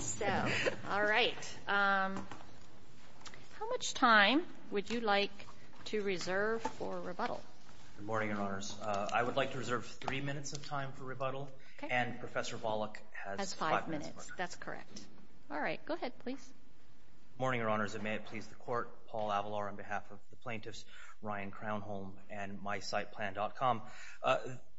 So, all right, how much time would you like to reserve for rebuttal? Good morning, Your Honors. I would like to reserve three minutes of time for rebuttal. And Professor Volokh has five minutes. Has five minutes. That's correct. All right. Go ahead, please. Good morning, Your Honors. And may it please the Court, Paul Avalor on behalf of the plaintiffs, Ryan Crownholm and mysiteplan.com.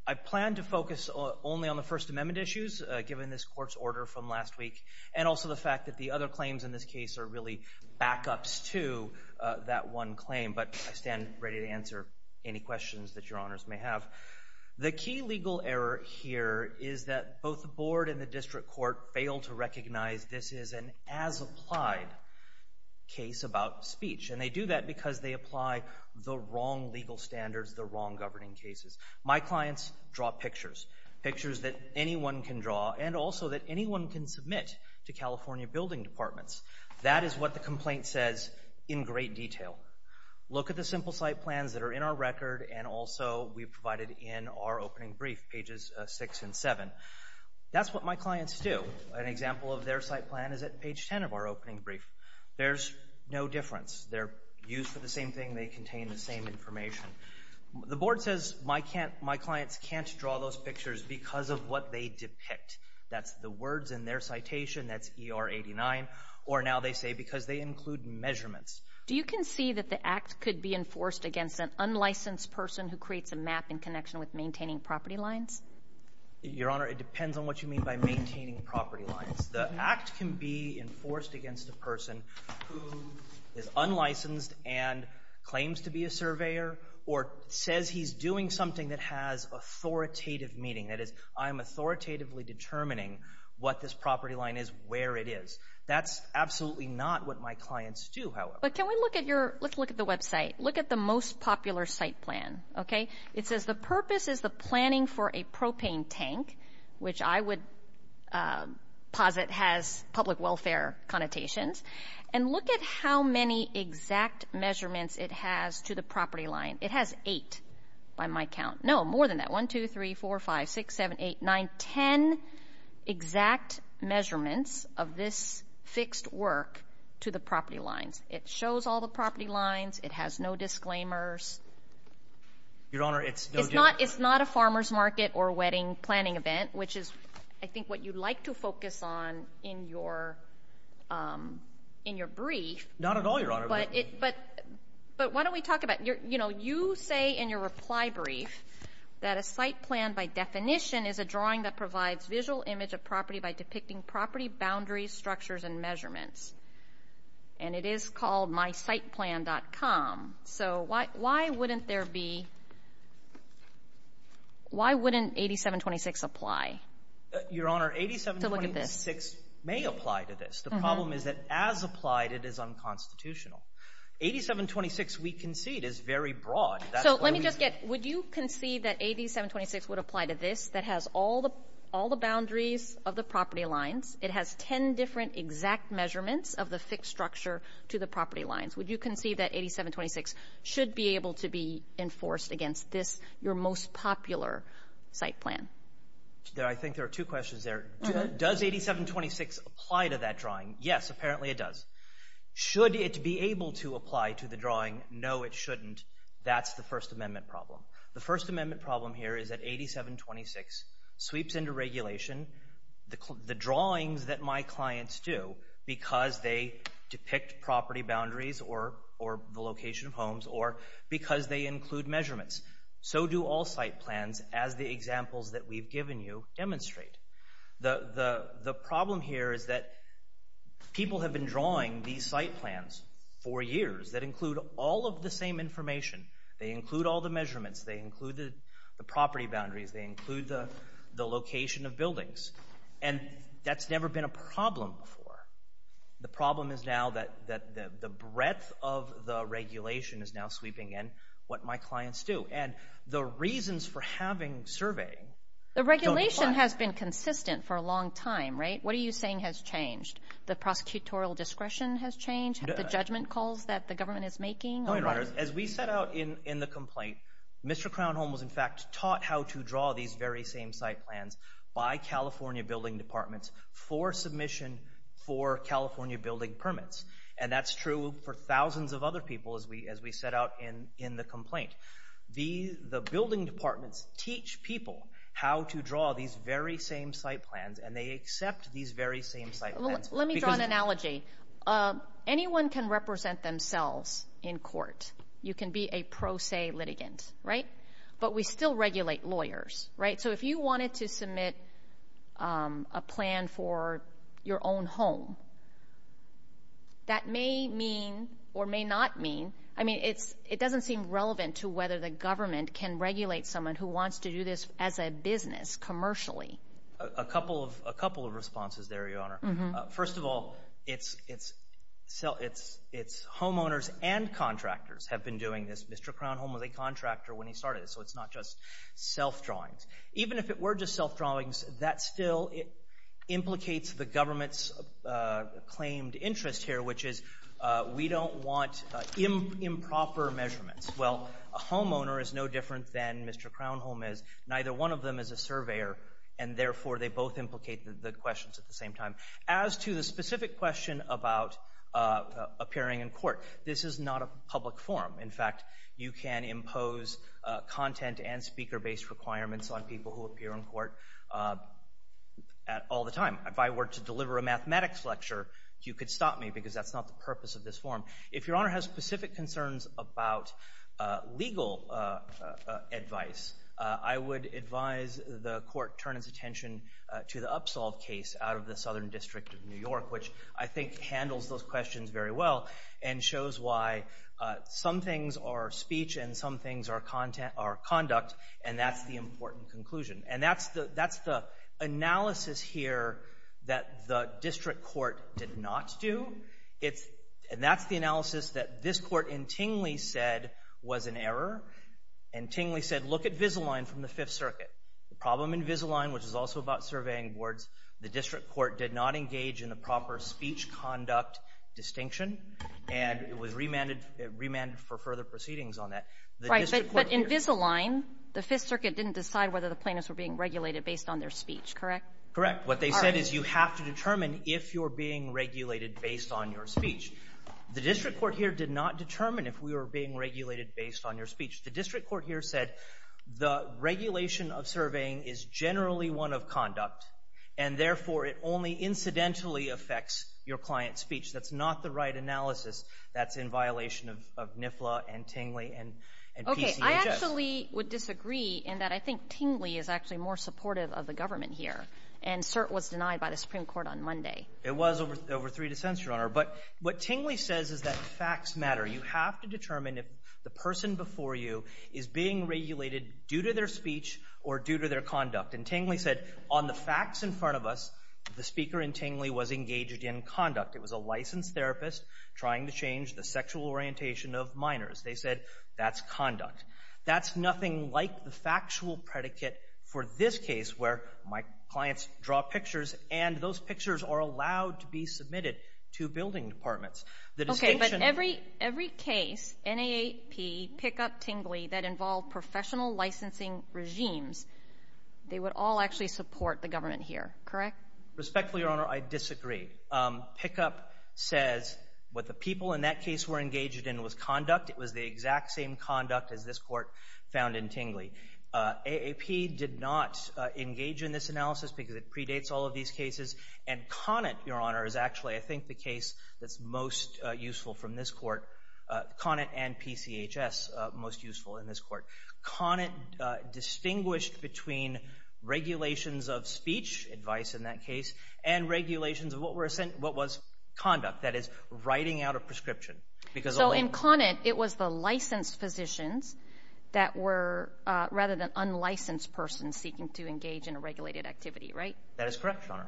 I plan to focus only on the First Amendment issues, given this Court's order from last week, and also the fact that the other claims in this case are really backups to that one claim. But I stand ready to answer any questions that Your Honors may have. The key legal error here is that both the Board and the District Court fail to recognize this is an as-applied case about speech. And they do that because they apply the wrong legal standards, the wrong governing cases. My clients draw pictures, pictures that anyone can draw and also that anyone can submit to California Building Departments. That is what the complaint says in great detail. Look at the simple site plans that are in our record and also we've provided in our opening brief, pages 6 and 7. That's what my clients do. An example of their site plan is at page 10 of our opening brief. There's no difference. They're used for the same thing. They contain the same information. The Board says my clients can't draw those pictures because of what they depict. That's the words in their citation. That's ER 89. Or now they say because they include measurements. Do you concede that the Act could be enforced against an unlicensed person who creates a map in connection with maintaining property lines? Your Honor, it depends on what you mean by maintaining property lines. The Act can be enforced against a person who is unlicensed and claims to be a surveyor or says he's doing something that has authoritative meaning. That is, I'm authoritatively determining what this property line is, where it is. That's absolutely not what my clients do, however. But can we look at your – let's look at the website. Look at the most popular site plan, okay? It says the purpose is the planning for a propane tank, which I would posit has public welfare connotations. And look at how many exact measurements it has to the property line. It has eight by my count. No, more than that, 1, 2, 3, 4, 5, 6, 7, 8, 9, 10 exact measurements of this fixed work to the property lines. It shows all the property lines. It has no disclaimers. Your Honor, it's no disclaimers. It's not a farmer's market or wedding planning event, which is, I think, what you'd like to focus on in your brief. Not at all, Your Honor. But why don't we talk about – you say in your reply brief that a site plan by definition is a drawing that provides visual image of property by depicting property boundaries, structures, and measurements. And it is called mysiteplan.com. So why wouldn't there be – why wouldn't 8726 apply? Your Honor, 8726 may apply to this. The problem is that as applied, it is unconstitutional. 8726 we concede is very broad. So let me just get – would you concede that 8726 would apply to this that has all the boundaries of the property lines? It has 10 different exact measurements of the fixed structure to the property lines. Would you concede that 8726 should be able to be enforced against this, your most popular site plan? I think there are two questions there. Does 8726 apply to that drawing? Yes, apparently it does. Should it be able to apply to the drawing? No, it shouldn't. That's the First Amendment problem. The First Amendment problem here is that 8726 sweeps into regulation the drawings that my clients do because they depict property boundaries or the location of homes or because they include measurements. So do all site plans as the examples that we've given you demonstrate. The problem here is that people have been drawing these site plans for years that include all of the same information. They include all the measurements. They include the property boundaries. They include the location of buildings. And that's never been a problem before. The problem is now that the breadth of the regulation is now sweeping in what my clients do. And the reasons for having surveying don't apply. The regulation has been consistent for a long time, right? What are you saying has changed? The prosecutorial discretion has changed? The judgment calls that the government is making? As we set out in the complaint, Mr. Crownholm was, in fact, taught how to draw these very same site plans by California building departments for submission for California building permits. And that's true for thousands of other people as we set out in the complaint. The building departments teach people how to draw these very same site plans, and they accept these very same site plans. Let me draw an analogy. Anyone can represent themselves in court. You can be a pro se litigant, right? But we still regulate lawyers, right? So if you wanted to submit a plan for your own home, that may mean or may not mean, I mean, it doesn't seem relevant to whether the government can regulate someone who wants to do this as a business commercially. A couple of responses there, Your Honor. First of all, it's homeowners and contractors have been doing this. Mr. Crownholm was a contractor when he started this, so it's not just self-drawings. Even if it were just self-drawings, that still implicates the government's claimed interest here, which is we don't want improper measurements. Well, a homeowner is no different than Mr. Crownholm is. Neither one of them is a surveyor, and therefore they both implicate the questions at the same time. As to the specific question about appearing in court, this is not a public forum. In fact, you can impose content and speaker-based requirements on people who appear in court all the time. If I were to deliver a mathematics lecture, you could stop me because that's not the purpose of this forum. If Your Honor has specific concerns about legal advice, I would advise the court turn its attention to the Upsolve case out of the Southern District of New York, which I think handles those questions very well and shows why some things are speech and some things are conduct, and that's the important conclusion. And that's the analysis here that the district court did not do. It's — and that's the analysis that this Court in Tingley said was an error. And Tingley said, look at Vizalign from the Fifth Circuit. The problem in Vizalign, which is also about surveying boards, the district court did not engage in the proper speech-conduct distinction, and it was remanded for further proceedings on that. The district court here — Right. But in Vizalign, the Fifth Circuit didn't decide whether the plaintiffs were being regulated based on their speech, correct? Correct. What it said is you have to determine if you're being regulated based on your speech. The district court here did not determine if we were being regulated based on your speech. The district court here said the regulation of surveying is generally one of conduct, and therefore it only incidentally affects your client's speech. That's not the right analysis. That's in violation of NIFLA and Tingley and PCHS. Okay. I actually would disagree in that I think Tingley is actually more supportive of the government here, and cert was denied by the Supreme Court on Monday. It was over three dissents, Your Honor. But what Tingley says is that facts matter. You have to determine if the person before you is being regulated due to their speech or due to their conduct. And Tingley said on the facts in front of us, the speaker in Tingley was engaged in conduct. It was a licensed therapist trying to change the sexual orientation of minors. They said that's conduct. That's nothing like the factual predicate for this case where my clients draw pictures and those pictures are allowed to be submitted to building departments. Okay, but every case, NAAP, pickup, Tingley, that involved professional licensing regimes, they would all actually support the government here, correct? Respectfully, Your Honor, I disagree. Pickup says what the people in that case were engaged in was conduct. It was the exact same conduct as this court found in Tingley. AAP did not engage in this analysis because it predates all of these cases, and Conant, Your Honor, is actually I think the case that's most useful from this court, Conant and PCHS most useful in this court. Conant distinguished between regulations of speech, advice in that case, and regulations of what was conduct, that is writing out a prescription. So in Conant, it was the licensed physicians that were rather than unlicensed persons seeking to engage in a regulated activity, right? That is correct, Your Honor.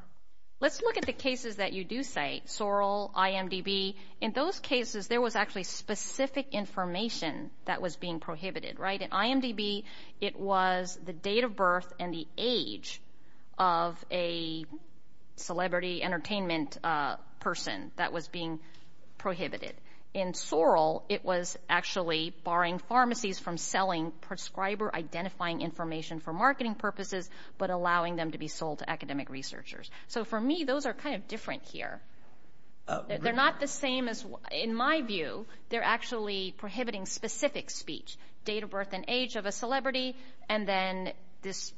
Let's look at the cases that you do cite, Sorrell, IMDb. In those cases, there was actually specific information that was being prohibited, right? In IMDb, it was the date of birth and the age of a celebrity, the entertainment person that was being prohibited. In Sorrell, it was actually barring pharmacies from selling prescriber-identifying information for marketing purposes but allowing them to be sold to academic researchers. So for me, those are kind of different here. They're not the same as in my view. They're actually prohibiting specific speech, date of birth and age of a celebrity, and then this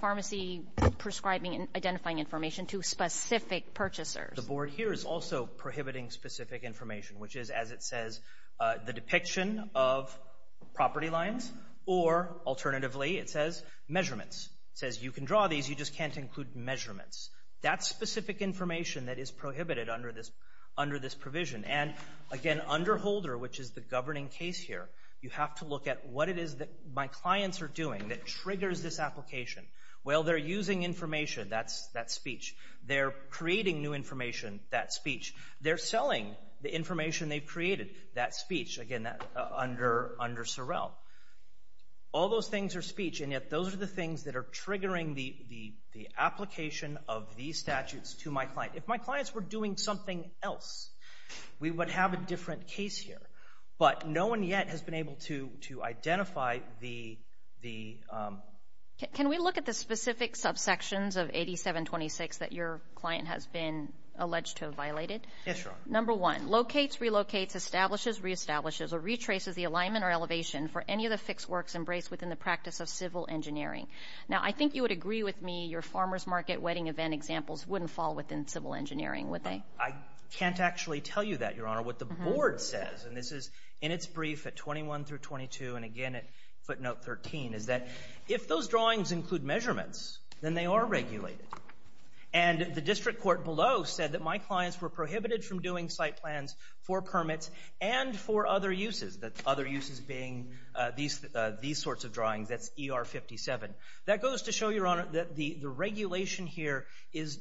pharmacy prescribing and identifying information to specific purchasers. The board here is also prohibiting specific information, which is, as it says, the depiction of property lines or, alternatively, it says, measurements. It says you can draw these, you just can't include measurements. That's specific information that is prohibited under this provision. And, again, under Holder, which is the governing case here, you have to look at what it is that my clients are doing that triggers this application. Well, they're using information, that's speech. They're creating new information, that's speech. They're selling the information they've created, that's speech, again, under Sorrell. All those things are speech, and yet those are the things that are triggering the application of these statutes to my client. If my clients were doing something else, we would have a different case here. But no one yet has been able to identify the— Can we look at the specific subsections of 8726 that your client has been alleged to have violated? Yes, Your Honor. Number one, locates, relocates, establishes, reestablishes, or retraces the alignment or elevation for any of the fixed works embraced within the practice of civil engineering. Now, I think you would agree with me your farmer's market wedding event examples wouldn't fall within civil engineering, would they? I can't actually tell you that, Your Honor. What the board says, and this is in its brief at 21 through 22 and again at footnote 13, is that if those drawings include measurements, then they are regulated. And the district court below said that my clients were prohibited from doing site plans for permits and for other uses, the other uses being these sorts of drawings, that's ER-57. That goes to show, Your Honor, that the regulation here is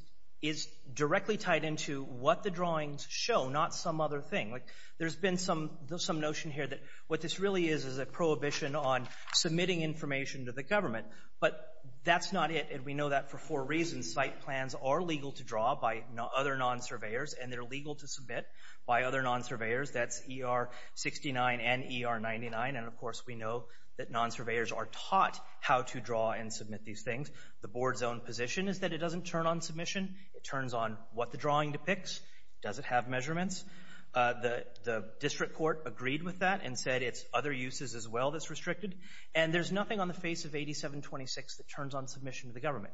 directly tied into what the drawings show, not some other thing. There's been some notion here that what this really is is a prohibition on submitting information to the government. But that's not it, and we know that for four reasons. Site plans are legal to draw by other non-surveyors, and they're legal to submit by other non-surveyors. That's ER-69 and ER-99. And, of course, we know that non-surveyors are taught how to draw and submit these things. The board's own position is that it doesn't turn on submission. It turns on what the drawing depicts. Does it have measurements? The district court agreed with that and said it's other uses as well that's restricted. And there's nothing on the face of 8726 that turns on submission to the government.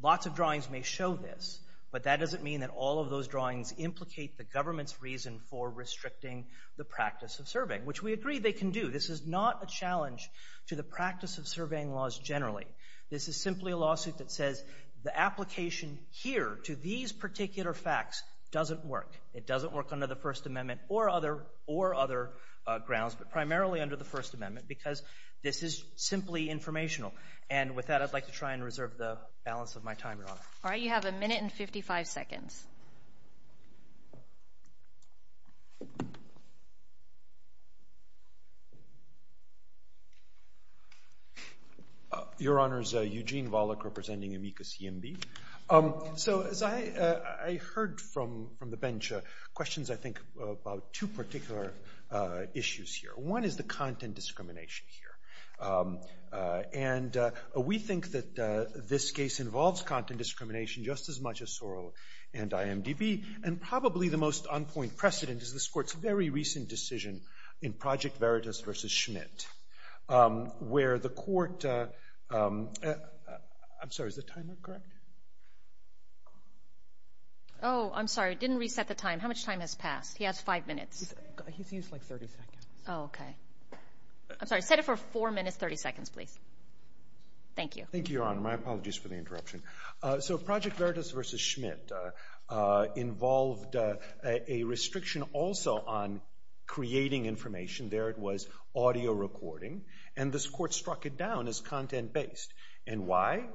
Lots of drawings may show this, but that doesn't mean that all of those drawings implicate the government's reason for restricting the practice of surveying, which we agree they can do. This is not a challenge to the practice of surveying laws generally. This is simply a lawsuit that says the application here to these particular facts doesn't work. It doesn't work under the First Amendment or other grounds, but primarily under the First Amendment because this is simply informational. And with that, I'd like to try and reserve the balance of my time, Your Honor. All right. You have a minute and 55 seconds. Your Honors, Eugene Volokh representing Amica CMB. So as I heard from the bench, questions, I think, about two particular issues here. One is the content discrimination here. And we think that this case involves content discrimination just as much as Sorrell and IMDb. And probably the most on-point precedent is this Court's very recent decision in Project Veritas v. Schmidt, where the Court — I'm sorry, is the timer correct? Oh, I'm sorry. It didn't reset the time. How much time has passed? He has five minutes. He's used like 30 seconds. Oh, okay. I'm sorry. Set it for four minutes, 30 seconds, please. Thank you. Thank you, Your Honor. My apologies for the interruption. So Project Veritas v. Schmidt involved a restriction also on creating information. There it was, audio recording. And this Court struck it down as content-based. And why?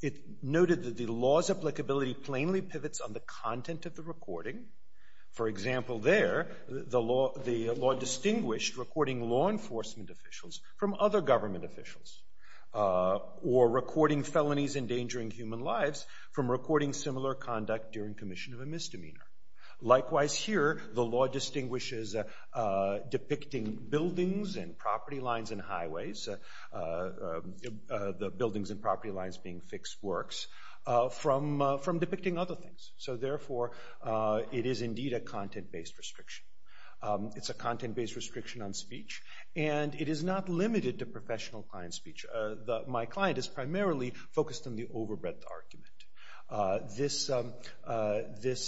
It noted that the law's applicability plainly pivots on the content of the recording. For example, there, the law distinguished recording law enforcement officials from other government officials or recording felonies endangering human lives from recording similar conduct during commission of a misdemeanor. Likewise here, the law distinguishes depicting buildings and property lines and highways, the buildings and property lines being fixed works, from depicting other things. So therefore, it is indeed a content-based restriction. It's a content-based restriction on speech, and it is not limited to professional client speech. My client is primarily focused on the overbreadth argument. This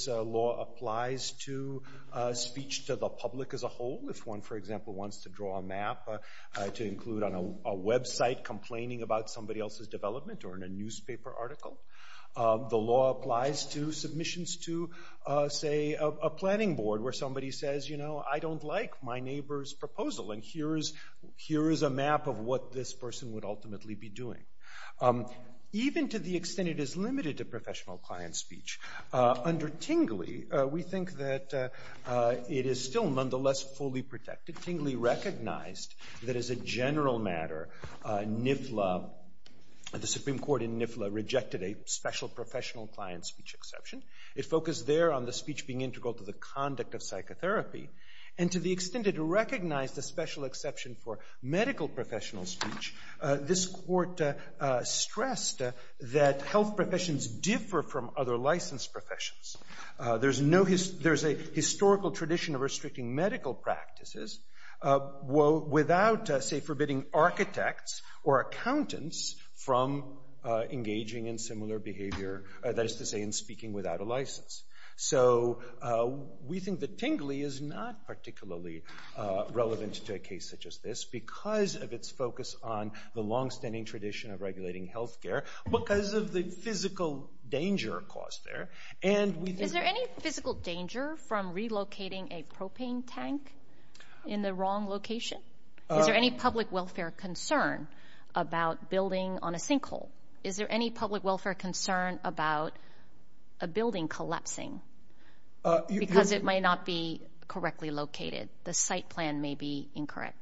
law applies to speech to the public as a whole. If one, for example, wants to draw a map to include on a website complaining about somebody else's development or in a newspaper article, the law applies to submissions to, say, a planning board where somebody says, you know, I don't like my neighbor's proposal, and here is a map of what this person would ultimately be doing. Even to the extent it is limited to professional client speech, under Tingley, we think that it is still nonetheless fully protected. Tingley recognized that as a general matter, NIFLA, the Supreme Court in NIFLA, rejected a special professional client speech exception. It focused there on the speech being integral to the conduct of psychotherapy, and to the extent it recognized a special exception for medical professional speech, this court stressed that health professions differ from other licensed professions. There is a historical tradition of restricting medical practices without, say, forbidding architects or accountants from engaging in similar behavior, that is to say, in speaking without a license. So we think that Tingley is not particularly relevant to a case such as this, because of its focus on the longstanding tradition of regulating health care, because of the physical danger caused there. Is there any physical danger from relocating a propane tank in the wrong location? Is there any public welfare concern about building on a sinkhole? Is there any public welfare concern about a building collapsing? Because it might not be correctly located. The site plan may be incorrect.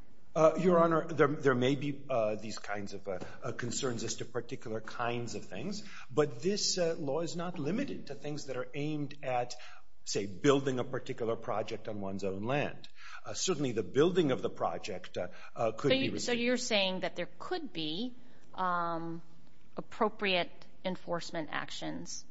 Your Honor, there may be these kinds of concerns as to particular kinds of things, but this law is not limited to things that are aimed at, say, building a particular project on one's own land. Certainly the building of the project could be restricted. So you're saying that there could be appropriate enforcement actions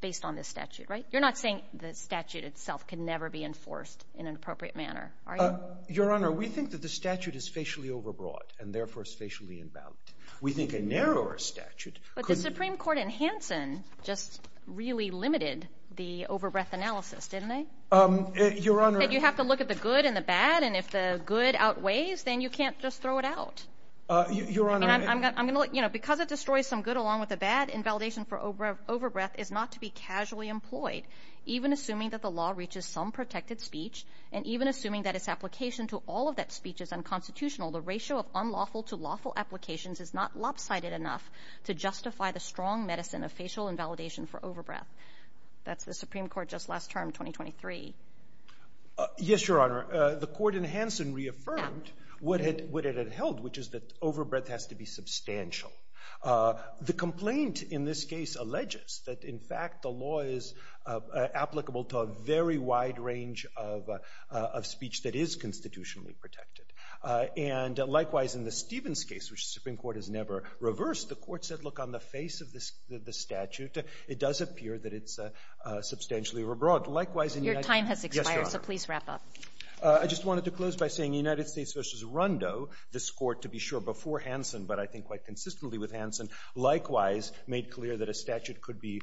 based on this statute, right? You're not saying the statute itself can never be enforced in an appropriate manner, are you? Your Honor, we think that the statute is facially overbroad and, therefore, is facially invalid. We think a narrower statute could be ---- But the Supreme Court in Hansen just really limited the overbreath analysis, didn't it? Your Honor ---- And you have to look at the good and the bad, and if the good outweighs, then you can't just throw it out. Your Honor ---- And I'm going to let you know, because it destroys some good along with the bad, invalidation for overbreath is not to be casually employed, even assuming that the law application to all of that speech is unconstitutional. The ratio of unlawful to lawful applications is not lopsided enough to justify the strong medicine of facial invalidation for overbreath. That's the Supreme Court just last term, 2023. Yes, Your Honor. The court in Hansen reaffirmed what it had held, which is that overbreath has to be substantial. The complaint in this case alleges that, in fact, the law is applicable to a very wide range of speech that is constitutionally protected. And likewise, in the Stevens case, which the Supreme Court has never reversed, the court said, look, on the face of this statute, it does appear that it's substantially overbroad. Likewise, in the United States ---- Your time has expired. Yes, Your Honor. So please wrap up. I just wanted to close by saying United States v. Rondo, this Court, to be sure, before Hansen, but I think quite consistently with Hansen, likewise made clear that a statute could be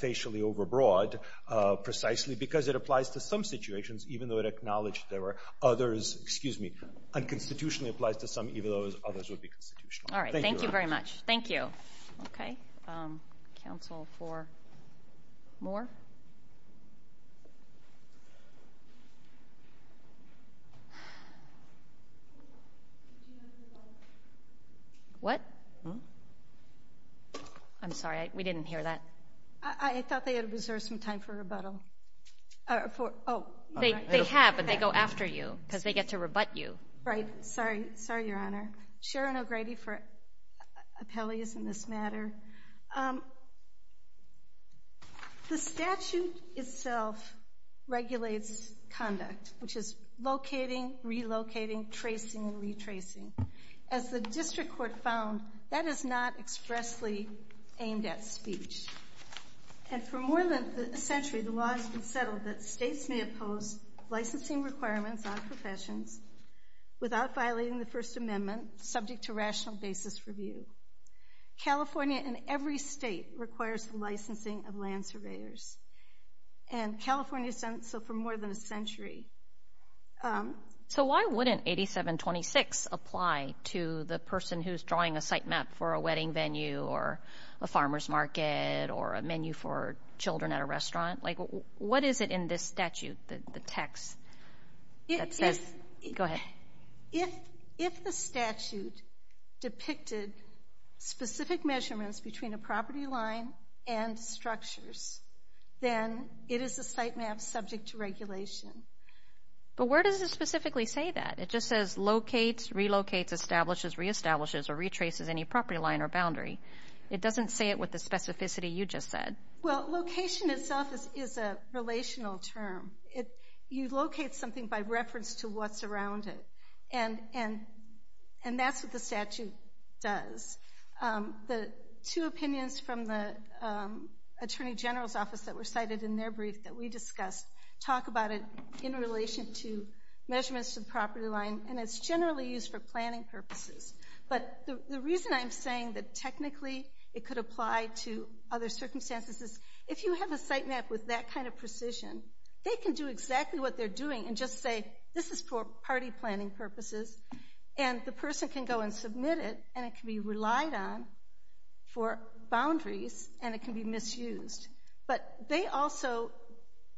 facially overbroad precisely because it applies to some situations, even though it acknowledged there were others ---- excuse me, unconstitutionally applies to some, even though others would be constitutional. Thank you, Your Honor. All right. Thank you very much. Thank you. Okay. Counsel for Moore? What? I'm sorry. We didn't hear that. I thought they had reserved some time for rebuttal. They have, and they go after you because they get to rebut you. Right. Sorry. Sorry, Your Honor. Sharon O'Grady for appellees in this matter. The statute itself regulates conduct, which is locating, relocating, tracing, As the district court found, that is not expressly aimed at speech. And for more than a century, the law has been settled that states may oppose licensing requirements on professions without violating the First Amendment subject to rational basis review. California and every state requires the licensing of land surveyors. And California has done so for more than a century. So why wouldn't 8726 apply to the person who's drawing a site map for a wedding venue or a farmer's market or a menu for children at a restaurant? Like, what is it in this statute, the text that says ---- go ahead. If the statute depicted specific measurements between a property line and structures, then it is a site map subject to regulation. But where does it specifically say that? It just says locates, relocates, establishes, reestablishes, or retraces any property line or boundary. It doesn't say it with the specificity you just said. Well, location itself is a relational term. You locate something by reference to what's around it, and that's what the statute does. The two opinions from the Attorney General's Office that were cited in their brief that we discussed talk about it in relation to measurements of property line, and it's generally used for planning purposes. But the reason I'm saying that technically it could apply to other circumstances is if you have a site map with that kind of precision, they can do exactly what they're doing and just say, this is for party planning purposes, and the person can go and submit it, and it can be relied on for boundaries, and it can be misused. But they also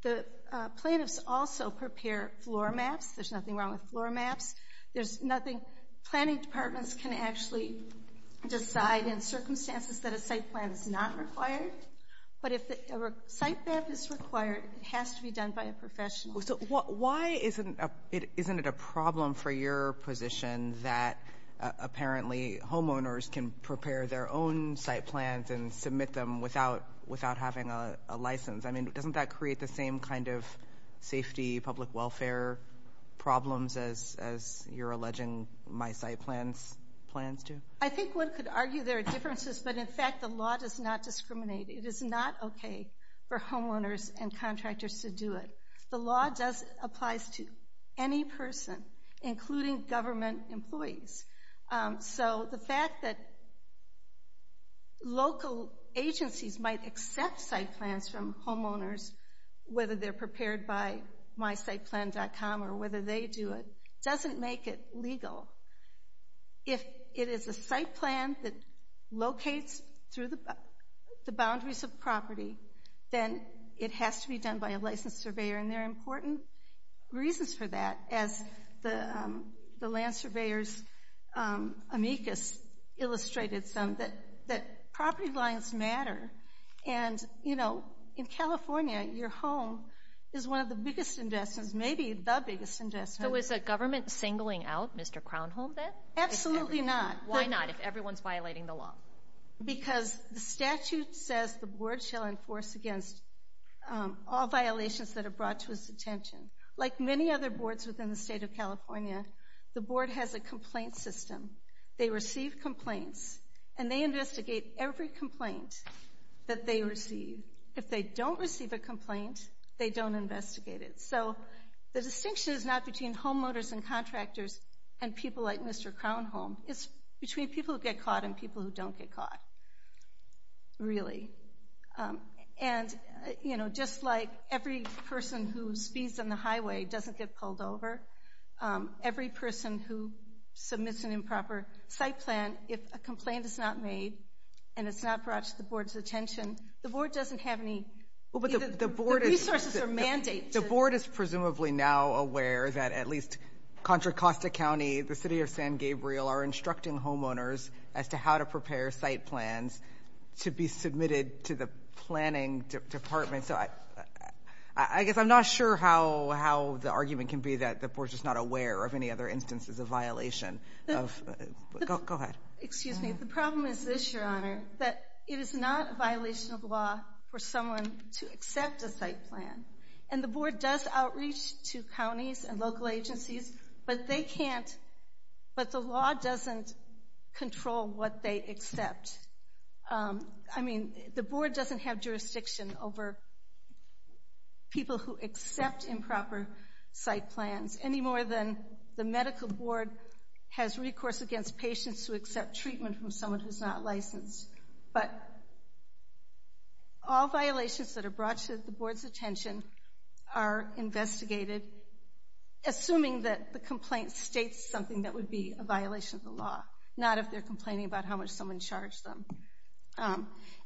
---- the plaintiffs also prepare floor maps. There's nothing wrong with floor maps. There's nothing ---- planning departments can actually decide in circumstances that a site plan is not required. But if a site map is required, it has to be done by a professional. So why isn't it a problem for your position that apparently homeowners can prepare their own site plans and submit them without having a license? I mean, doesn't that create the same kind of safety, public welfare problems as you're alleging my site plans do? I think one could argue there are differences, but, in fact, the law does not discriminate. It is not okay for homeowners and contractors to do it. The law applies to any person, including government employees. So the fact that local agencies might accept site plans from homeowners, whether they're prepared by mysiteplan.com or whether they do it, doesn't make it legal. If it is a site plan that locates through the boundaries of property, then it has to be done by a licensed surveyor, and there are important reasons for that, as the land surveyor's amicus illustrated some, that property lines matter. And, you know, in California, your home is one of the biggest investments, maybe the biggest investment. So is the government singling out Mr. Crownholm then? Absolutely not. Why not, if everyone's violating the law? Because the statute says the board shall enforce against all violations that are brought to its attention. Like many other boards within the state of California, the board has a complaint system. They receive complaints, and they investigate every complaint that they receive. If they don't receive a complaint, they don't investigate it. So the distinction is not between homeowners and contractors and people like Mr. Crownholm. It's between people who get caught and people who don't get caught, really. And, you know, just like every person who speeds on the highway doesn't get pulled over, every person who submits an improper site plan, if a complaint is not made and it's not brought to the board's attention, the board doesn't have any resources or mandates. The board is presumably now aware that at least Contra Costa County, the city of San Gabriel, are instructing homeowners as to how to prepare site plans to be submitted to the planning department. So I guess I'm not sure how the argument can be that the board's just not aware of any other instances of violation. Go ahead. Excuse me. The problem is this, Your Honor, that it is not a violation of law for someone to accept a site plan. And the board does outreach to counties and local agencies, but they can't, but the law doesn't control what they accept. I mean, the board doesn't have jurisdiction over people who accept improper site plans any more than the medical board has recourse against patients who accept treatment from someone who's not licensed. But all violations that are brought to the board's attention are investigated, assuming that the complaint states something that would be a violation of the law, not if they're complaining about how much someone charged them.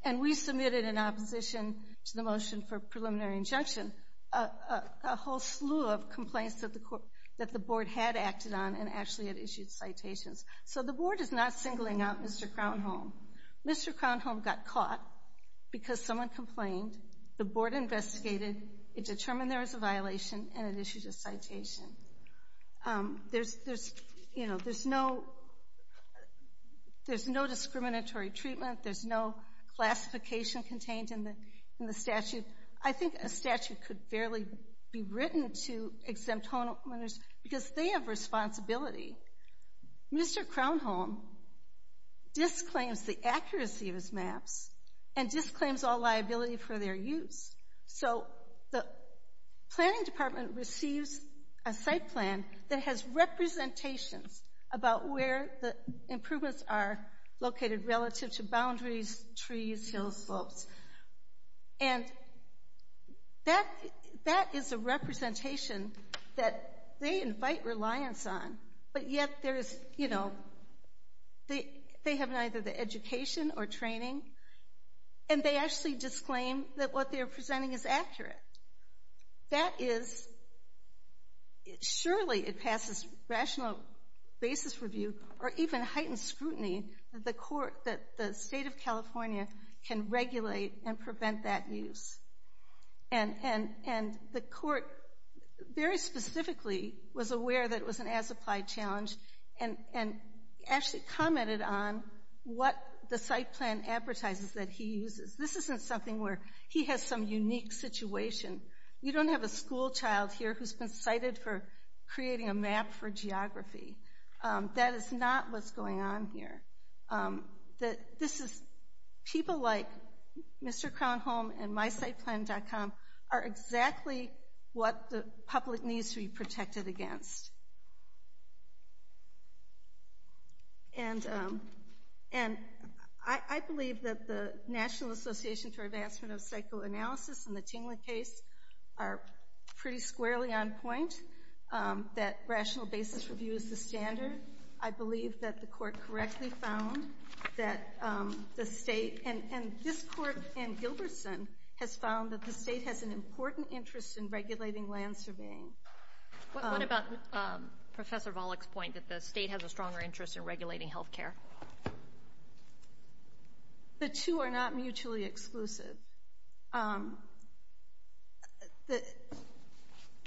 And we submitted in opposition to the motion for preliminary injunction a whole slew of complaints that the board had acted on and actually had issued citations. So the board is not singling out Mr. Crownholm. Mr. Crownholm got caught because someone complained. The board investigated. It determined there was a violation, and it issued a citation. There's no discriminatory treatment. There's no classification contained in the statute. I think a statute could barely be written to exempt homeowners because they have responsibility. Mr. Crownholm disclaims the accuracy of his maps and disclaims all liability for their use. So the planning department receives a site plan that has representations about where the improvements are located relative to boundaries, trees, hills, slopes. And that is a representation that they invite reliance on, but yet they have neither the education or training, and they actually disclaim that what they're presenting is accurate. Surely it passes rational basis review or even heightened scrutiny that the state of California can regulate and prevent that use. And the court very specifically was aware that it was an as-applied challenge and actually commented on what the site plan advertises that he uses. This isn't something where he has some unique situation. You don't have a schoolchild here who's been cited for creating a map for geography. That is not what's going on here. People like Mr. Crownholm and MySitePlan.com are exactly what the public needs to be protected against. And I believe that the National Association for Advancement of Psychoanalysis and the Tingler case are pretty squarely on point, that rational basis review is the standard. I believe that the court correctly found that the state, and this court and Gilbertson, has found that the state has an important interest in regulating land surveying. What about Professor Volokh's point that the state has a stronger interest in regulating health care? The two are not mutually exclusive.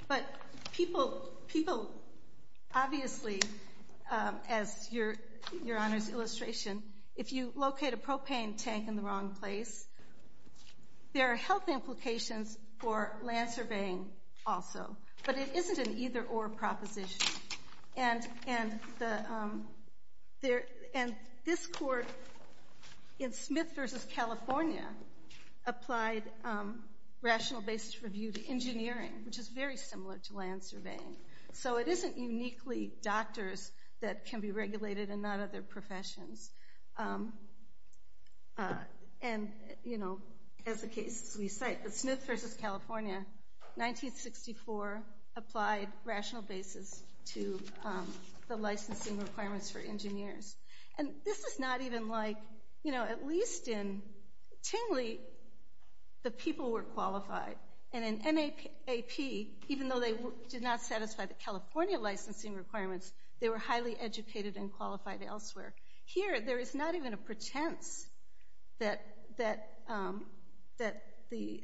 But people obviously, as Your Honor's illustration, if you locate a propane tank in the wrong place, there are health implications for land surveying also. But it isn't an either-or proposition. And this court in Smith v. California applied rational basis review to engineering, which is very similar to land surveying. So it isn't uniquely doctors that can be regulated and not other professions. And, you know, as the cases we cite, the Smith v. California, 1964, applied rational basis to the licensing requirements for engineers. And this is not even like, you know, at least in Tingley, the people were qualified. And in NAP, even though they did not satisfy the California licensing requirements, they were highly educated and qualified elsewhere. Here, there is not even a pretense that the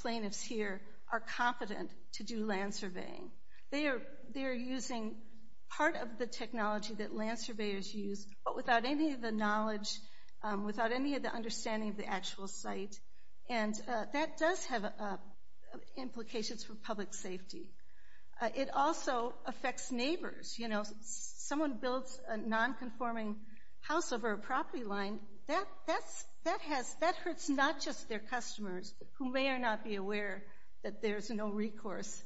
plaintiffs here are competent to do land surveying. They are using part of the technology that land surveyors use, but without any of the knowledge, without any of the understanding of the actual site. And that does have implications for public safety. It also affects neighbors. You know, if someone builds a nonconforming house over a property line, that hurts not just their customers, who may or not be aware that there's no recourse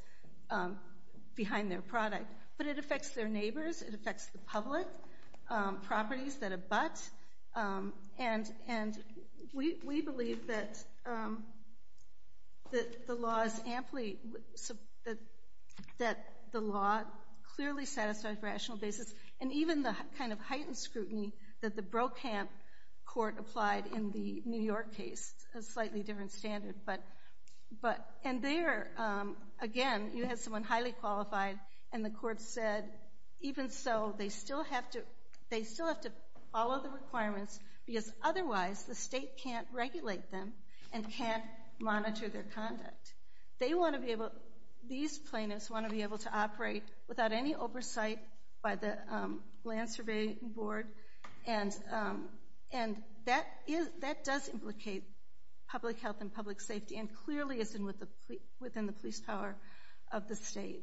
behind their product, but it affects their neighbors, it affects the public, properties that abut. And we believe that the law is amply— that the law clearly satisfies rational basis, and even the kind of heightened scrutiny that the Brokamp court applied in the New York case, a slightly different standard. And there, again, you had someone highly qualified, and the court said, even so, they still have to follow the requirements because otherwise the state can't regulate them and can't monitor their conduct. They want to be able—these plaintiffs want to be able to operate without any oversight by the Land Surveying Board, and that does implicate public health and public safety and clearly is within the police power of the state.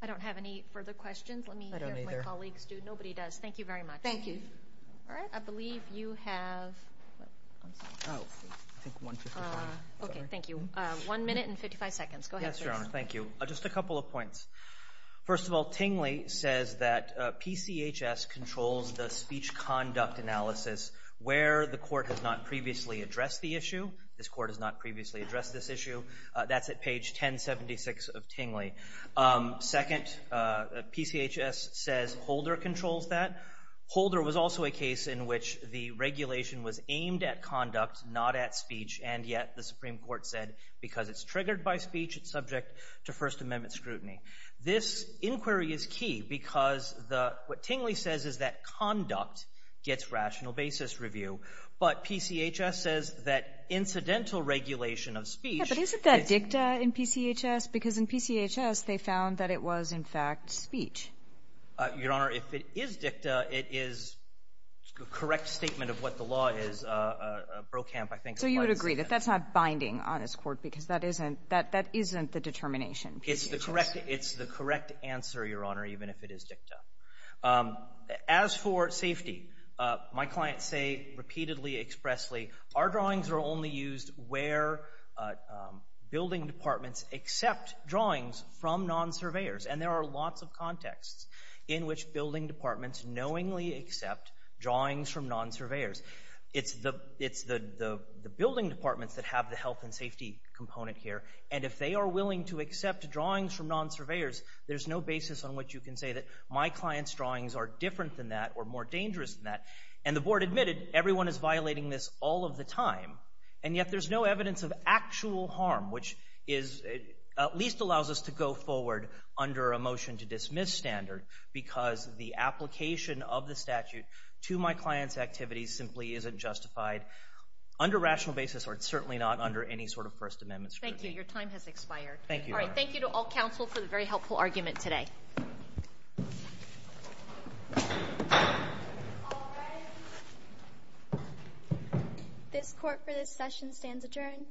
I don't have any further questions. I don't either. Let me hear from my colleagues. Nobody does. Thank you very much. Thank you. All right. I believe you have— Okay, thank you. One minute and 55 seconds. Go ahead, please. Yes, Your Honor. Thank you. Just a couple of points. First of all, Tingley says that PCHS controls the speech conduct analysis where the court has not previously addressed the issue. This court has not previously addressed this issue. That's at page 1076 of Tingley. Second, PCHS says Holder controls that. Holder was also a case in which the regulation was aimed at conduct, not at speech, and yet the Supreme Court said because it's triggered by speech, it's subject to First Amendment scrutiny. This inquiry is key because the — what Tingley says is that conduct gets rational basis review, but PCHS says that incidental regulation of speech— Yeah, but isn't that dicta in PCHS? Because in PCHS, they found that it was, in fact, speech. Your Honor, if it is dicta, it is a correct statement of what the law is. Brokamp, I think— So you would agree that that's not binding on this court because that isn't — that isn't the determination. It's the correct answer, Your Honor, even if it is dicta. As for safety, my clients say repeatedly, expressly, our drawings are only used where building departments accept drawings from non-surveyors, and there are lots of contexts in which building departments knowingly accept drawings from non-surveyors. It's the building departments that have the health and safety component here, and if they are willing to accept drawings from non-surveyors, there's no basis on which you can say that my clients' drawings are different than that or more dangerous than that. And the Board admitted everyone is violating this all of the time, and yet there's no evidence of actual harm, which is — at least allows us to go forward under a motion to dismiss standard because the application of the statute to my clients' activities simply isn't justified under rational basis, or it's certainly not under any sort of First Amendment scrutiny. Thank you. Your time has expired. Thank you, Your Honor. All right. Thank you to all counsel for the very helpful argument today. All rise. This Court for this session stands adjourned.